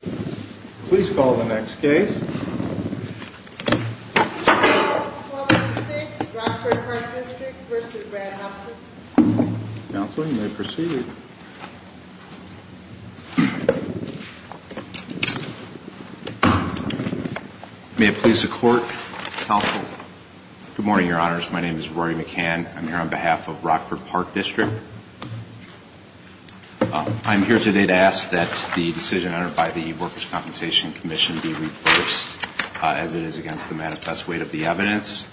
Please call the next case. 1286 Rockford Park District v. Brad Huffston. Counseling, you may proceed. May it please the Court, Counsel? Good morning, Your Honors. My name is Rory McCann. I'm here on behalf of Rockford Park District. I'm here today to ask that the decision entered by the Workers' Compensation Commission be reversed as it is against the manifest weight of the evidence.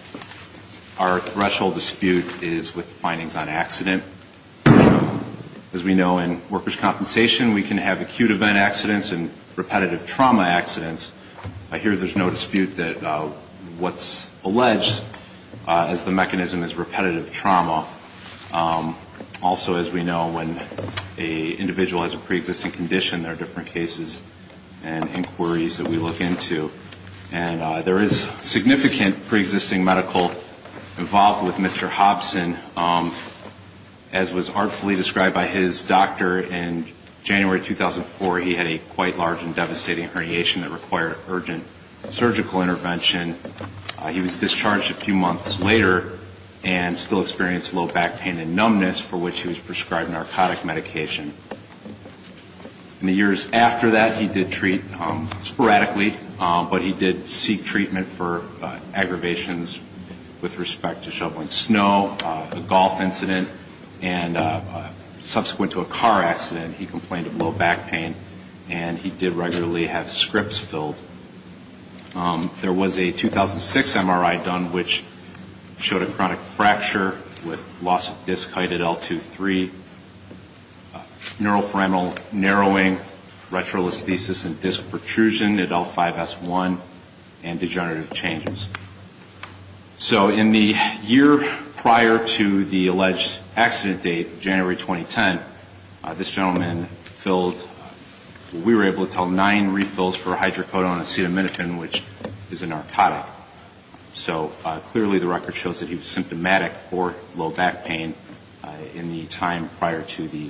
Our threshold dispute is with findings on accident. As we know, in Workers' Compensation, we can have acute event accidents and repetitive trauma accidents. I hear there's no dispute that what's alleged as the mechanism is repetitive trauma. Also, as we know, when an individual has a pre-existing condition, there are different cases and inquiries that we look into. And there is significant pre-existing medical involvement with Mr. Huffston. As was artfully described by his doctor in January 2004, he had a quite large and devastating herniation that required urgent surgical intervention. He was discharged a few months later and still experienced low back pain and numbness for which he was prescribed narcotic medication. In the years after that, he did treat sporadically, but he did seek treatment for aggravations with respect to shoveling snow, a golf incident, and subsequent to a car accident, he complained of low back pain, and he did regularly have scripts filled. There was a 2006 MRI done which showed a chronic fracture with loss of disc height at L2-3, neuroforaminal narrowing, retrolisthesis and disc protrusion at L5-S1, and degenerative changes. So in the year prior to the alleged accident date, January 2010, this gentleman filled, we were able to tell, nine refills for a hydrocodone injection. He was on acetaminophen, which is a narcotic. So clearly the record shows that he was symptomatic for low back pain in the time prior to the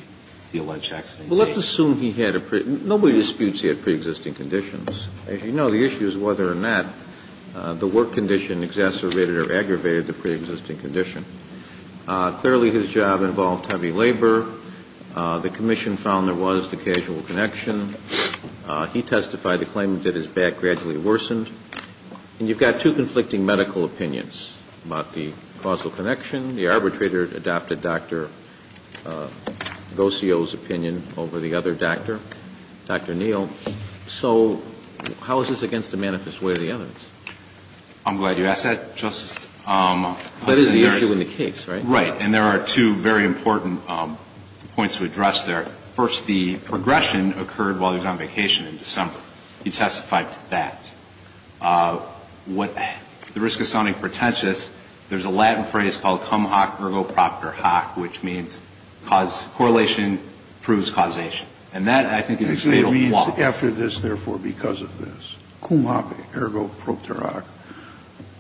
alleged accident date. Well, let's assume he had a pre-existing condition. As you know, the issue is whether or not the work condition exacerbated or aggravated the pre-existing condition. Clearly, his job involved heavy labor. The commission found there was the casual connection. He testified to the claim that his back gradually worsened. And you've got two conflicting medical opinions about the causal connection. The arbitrator adopted Dr. Gosio's opinion over the other doctor, Dr. Neal. So how is this against the manifest way of the evidence? I'm glad you asked that, Justice. That is the issue in the case, right? Right. And there are two very important points to address there. First, the aggression occurred while he was on vacation in December. He testified to that. What the risk of sounding pretentious, there's a Latin phrase called cum hoc ergo proctor hoc, which means correlation proves causation. And that, I think, is a fatal flaw. Actually, it means after this, therefore, because of this. Cum hoc ergo proctor hoc.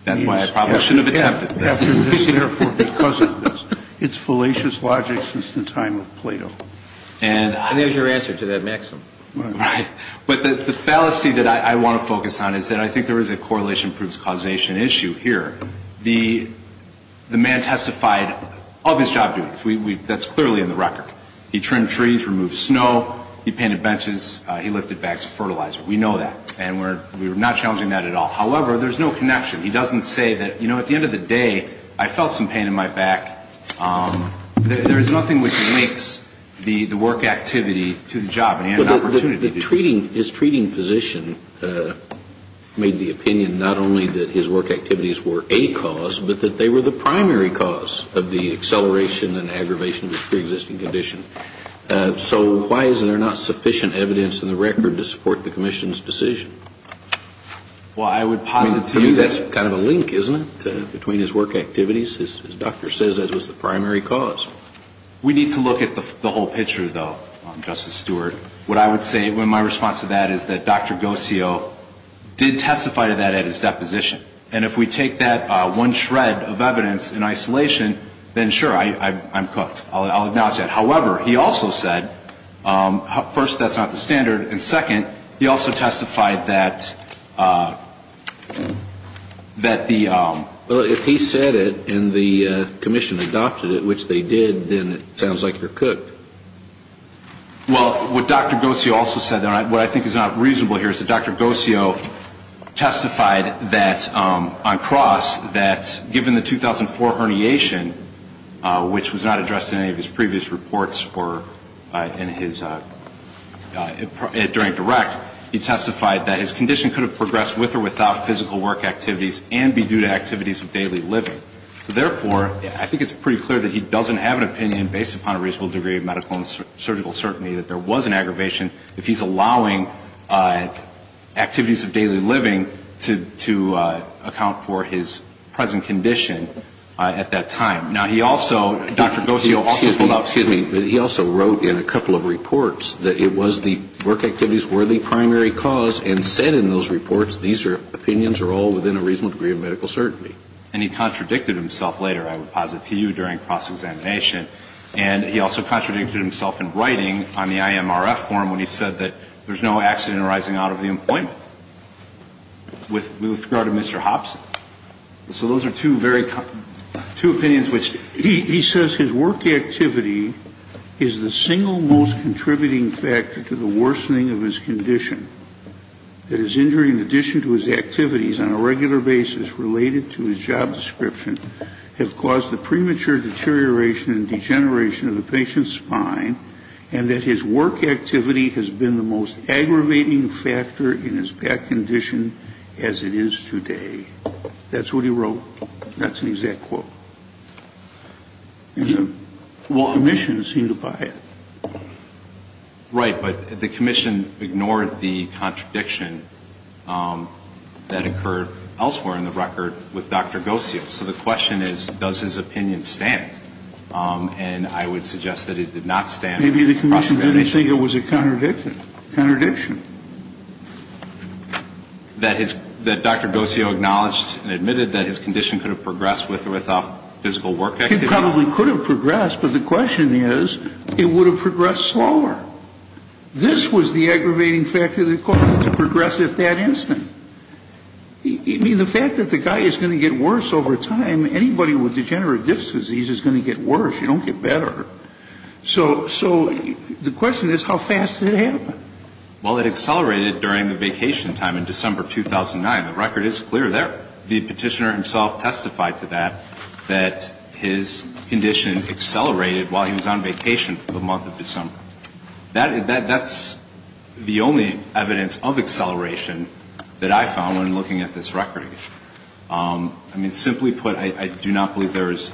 That's why I probably shouldn't have attempted this. After this, therefore, because of this. It's fallacious logic since the time of Plato. And there's your answer to that, Maxim. Right. But the fallacy that I want to focus on is that I think there is a correlation proves causation issue here. The man testified of his job duties. That's clearly in the record. He trimmed trees, removed snow. He painted benches. He lifted bags of fertilizer. We know that. And we're not challenging that at all. However, there's no connection. He doesn't say that, you know, at the end of the day, I felt some pain in my back. There is nothing which links the work activity to the job. And he had an opportunity to do so. But the treating, his treating physician made the opinion not only that his work activities were a cause, but that they were the primary cause of the acceleration and aggravation of his preexisting condition. So why is there not sufficient evidence in the record to support the commission's decision? Well, I would posit to you that's kind of a link, isn't it, between his work activities? His doctor says that it was the primary cause. We need to look at the whole picture, though, Justice Stewart. What I would say, my response to that is that Dr. Gosio did testify to that at his deposition. And if we take that one shred of evidence in isolation, then, sure, I'm cooked. I'll acknowledge that. However, he also said, first, that's not the standard. And second, he also testified that the ‑‑ Well, if he said it and the commission adopted it, which they did, then it sounds like you're cooked. Well, what Dr. Gosio also said, though, and what I think is not reasonable here, is that Dr. Gosio testified that, on cross, that given the 2004 herniation, which was not addressed in any of his previous reports or in his ‑‑ during direct, he testified that his condition could have progressed with or without physical work activities and be due to activities of daily living. So, therefore, I think it's pretty clear that he doesn't have an opinion, based upon a reasonable degree of medical and surgical certainty, that there was an aggravation if he's allowing activities of daily living to account for his present condition at that time. Now, he also, Dr. Gosio also ‑‑ Excuse me. But he also wrote in a couple of reports that it was the work activities were the primary cause and said in those reports these opinions are all within a reasonable degree of medical certainty. And he contradicted himself later, I would posit to you, during cross‑examination. And he also contradicted himself in writing on the IMRF forum when he said that there's no accident arising out of the employment with regard to Mr. Hobson. So those are two very ‑‑ two opinions which ‑‑ He says his work activity is the single most contributing factor to the worsening of his condition, that his injury in addition to his activities on a regular basis related to his job description have caused the premature deterioration and degeneration of the patient's spine and that his work activity has been the most aggravating factor in his back condition as it is today. That's what he wrote. That's an exact quote. And the commission seemed to buy it. Right. But the commission ignored the contradiction that occurred elsewhere in the record with Dr. Gosio. So the question is, does his opinion stand? And I would suggest that it did not stand. Maybe the commission didn't think it was a contradiction. That Dr. Gosio acknowledged and admitted that his condition could have progressed with or without physical work activities? It probably could have progressed, but the question is, it would have progressed slower. This was the aggravating factor that caused it to progress at that instant. I mean, the fact that the guy is going to get worse over time, anybody with degenerative disc disease is going to get worse. You don't get better. So the question is, how fast did it happen? Well, it accelerated during the vacation time in December 2009. The record is clear there. The petitioner himself testified to that, that his condition accelerated while he was on vacation for the month of December. That's the only evidence of acceleration that I found when looking at this record. I mean, simply put, I do not believe there is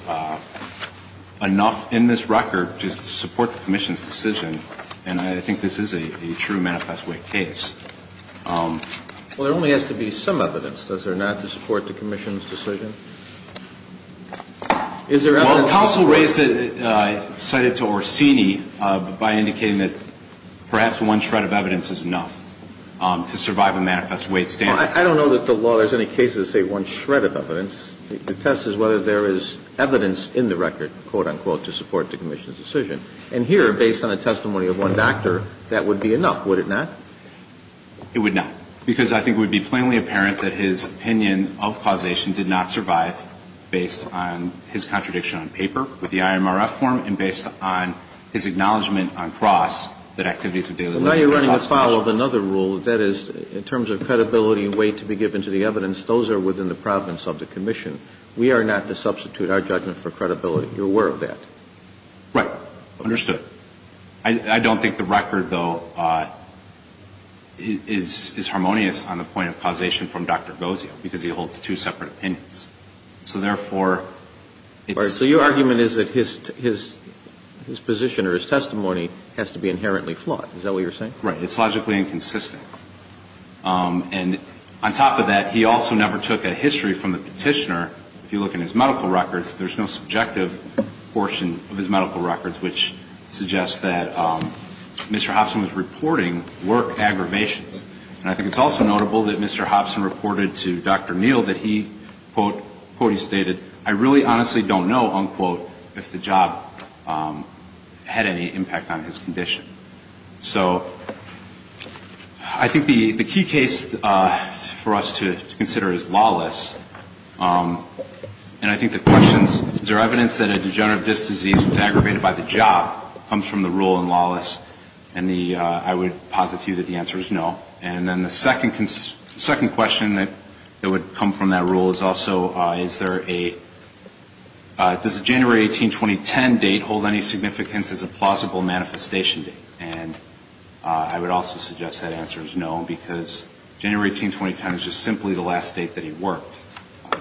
enough in this record just to support the commission's decision, and I think this is a true manifest weight case. Well, there only has to be some evidence, does there not, to support the commission's decision? Well, counsel raised it, cited it to Orsini by indicating that perhaps one shred of evidence is enough to survive a manifest weight standard. Well, I don't know that the law has any cases that say one shred of evidence. The test is whether there is evidence in the record, quote, unquote, to support the commission's decision. And here, based on a testimony of one doctor, that would be enough, would it not? It would not, because I think it would be plainly apparent that his opinion of causation did not survive based on his contradiction on paper with the IMRF form and based Now you are running afoul of another rule, that is, in terms of credibility and weight to be given to the evidence, those are within the province of the commission. We are not to substitute our judgment for credibility. You are aware of that? Right. Understood. I don't think the record, though, is harmonious on the point of causation from Dr. Gozio, because he holds two separate opinions. So therefore, it's So your argument is that his position or his testimony has to be inherently flawed. Is that what you are saying? Right. It's logically inconsistent. And on top of that, he also never took a history from the Petitioner. If you look in his medical records, there is no subjective portion of his medical records which suggests that Mr. Hobson was reporting work aggravations. And I think it's also notable that Mr. Hobson reported to Dr. Neal that he, quote, quote, he stated, I really honestly don't know, unquote, if the job had any impact on his condition. So I think the key case for us to consider is lawless. And I think the questions, is there evidence that a degenerative disc disease was aggravated by the job, comes from the rule in lawless. And I would posit to you that the answer is no. And then the second question that would come from that rule is also, is there a, does the January 18, 2010 date hold any significance as a plausible manifestation date? And I would also suggest that answer is no, because January 18, 2010 is just simply the last date that he worked.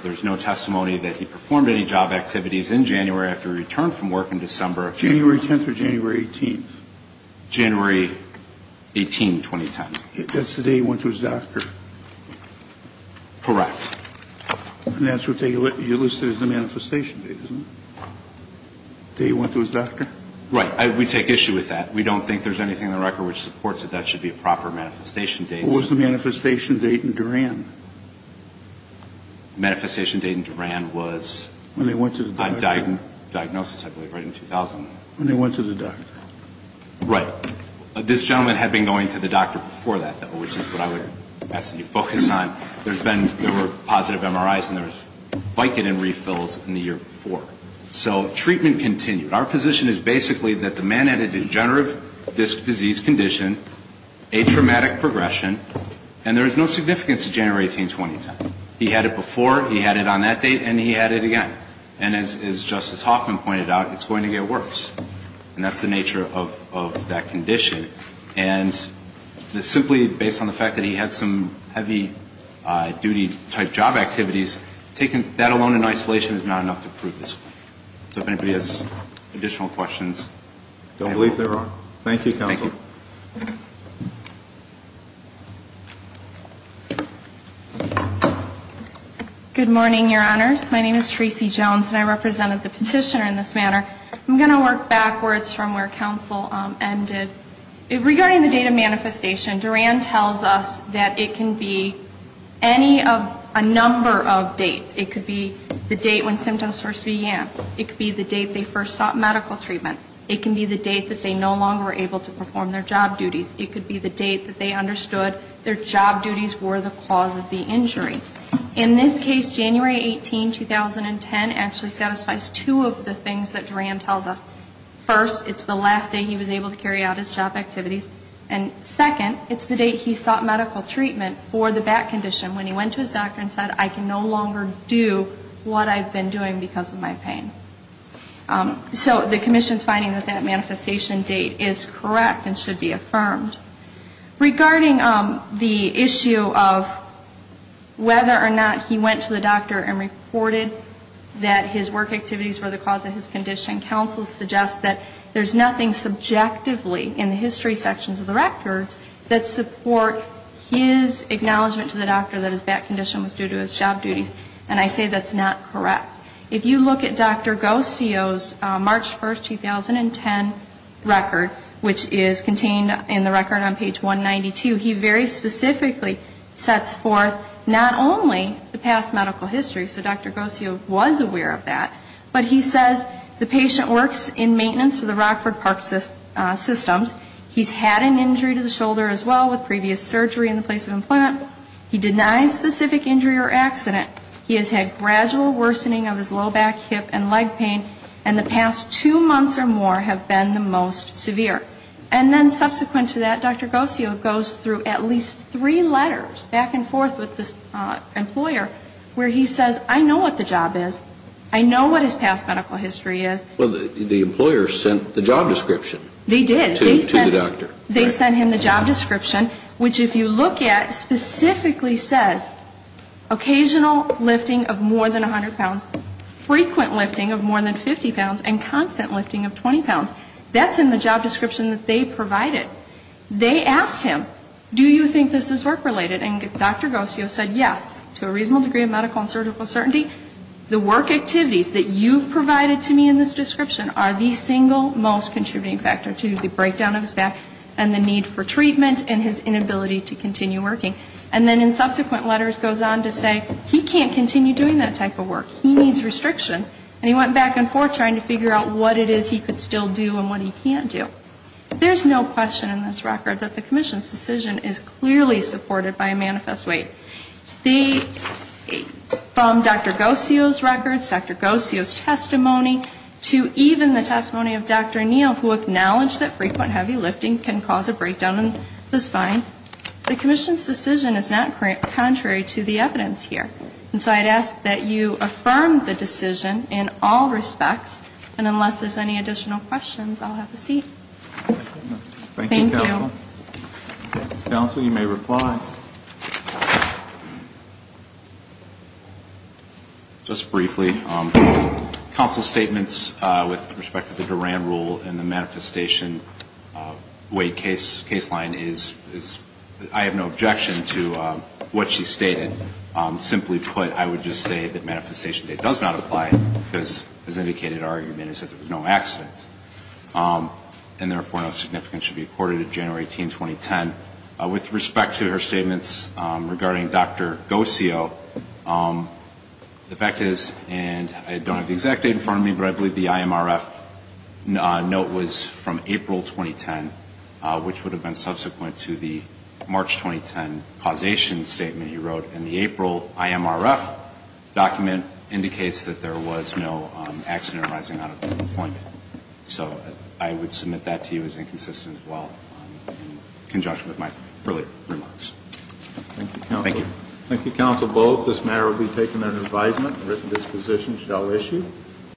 There is no testimony that he performed any job activities in January after he returned from work in December. January 10th or January 18th? January 18, 2010. That's the day he went to his doctor. Correct. And that's what you listed as the manifestation date, isn't it? The day he went to his doctor? Right. We take issue with that. We don't think there's anything in the record which supports that that should be a proper manifestation date. What was the manifestation date in Duran? Manifestation date in Duran was a diagnosis, I believe, right in 2001. When he went to the doctor. Right. This gentleman had been going to the doctor before that, though, which is what I would ask that you focus on. There's been, there were positive MRIs and there was Vicodin refills in the year before. So treatment continued. Our position is basically that the man had a degenerative disc disease condition, a traumatic progression, and there is no significance to January 18, 2010. He had it before, he had it on that date, and he had it again. And as Justice Hoffman pointed out, it's going to get worse. And that's the nature of that condition. And simply based on the fact that he had some heavy-duty type job activities, that alone in isolation is not enough to prove this. So if anybody has additional questions. I don't believe there are. Thank you, counsel. Thank you. Good morning, Your Honors. My name is Tracy Jones, and I represented the petitioner in this manner. I'm going to work backwards from where counsel ended. Regarding the date of manifestation, Duran tells us that it can be any of a number of dates. It could be the date when symptoms first began. It could be the date they first sought medical treatment. It can be the date that they no longer were able to perform their job duties. It could be the date that they understood their job duties were the cause of the injury. In this case, January 18, 2010, actually satisfies two of the things that Duran tells us. First, it's the last day he was able to carry out his job activities. And second, it's the date he sought medical treatment for the back condition when he went to his doctor and said, I can no longer do what I've been doing because of my pain. So the commission's finding that that manifestation date is correct and should be affirmed. Regarding the issue of whether or not he went to the doctor and reported that his work activities were the cause of his condition, counsel suggests that there's nothing subjectively in the history sections of the records that support his acknowledgment to the doctor that his back condition was due to his job duties. And I say that's not correct. If you look at Dr. Gosio's March 1, 2010 record, which is contained in the record on page 192, he very specifically sets forth not only the past medical history, so Dr. Gosio was aware of that, but he says the patient works in maintenance for the Rockford Park Systems. He's had an injury to the shoulder as well with previous surgery in the place of employment. He denies specific injury or accident. He has had gradual worsening of his low back, hip and leg pain. And the past two months or more have been the most severe. And then subsequent to that, Dr. Gosio goes through at least three letters back and forth with the employer where he says I know what the job is, I know what his past medical history is. Well, the employer sent the job description. They did. To the doctor. They sent him the job description, which if you look at specifically says occasional lifting of more than 100 pounds, frequent lifting of more than 50 pounds and constant lifting of 20 pounds. That's in the job description that they provided. They asked him, do you think this is work related? And Dr. Gosio said yes, to a reasonable degree of medical and surgical certainty. The work activities that you've provided to me in this description are the single most contributing factor to the breakdown of his back and the need for treatment and his inability to continue working. And then in subsequent letters goes on to say he can't continue doing that type of work. He needs restrictions. And he went back and forth trying to figure out what it is he could still do and what he can't do. There's no question in this record that the commission's decision is clearly supported by a manifest weight. From Dr. Gosio's records, Dr. Gosio's testimony, to even the testimony of Dr. Neal who acknowledged that frequent heavy lifting can cause a breakdown in the spine, the commission's decision is not contrary to the evidence here. And so I'd ask that you affirm the decision in all respects. And unless there's any additional questions, I'll have a seat. Thank you. Thank you, Counsel. Counsel, you may reply. Just briefly. Counsel's statements with respect to the Duran rule and the manifestation weight case line, I have no objection to what she stated. Simply put, I would just say that manifestation date does not apply because as indicated in our argument, it's that there was no accident. And therefore, no significance should be accorded to January 18, 2010. With respect to her statements regarding Dr. Gosio, the fact is, and I don't have the exact date in front of me, but I believe the IMRF note was from April 2010, which would have been subsequent to the March 2010 causation statement he wrote. And the April IMRF document indicates that there was no accident arising out of the appointment. So I would submit that to you as inconsistent as well, in conjunction with my earlier remarks. Thank you. Thank you, Counsel. This matter will be taken under advisement. The written disposition shall issue.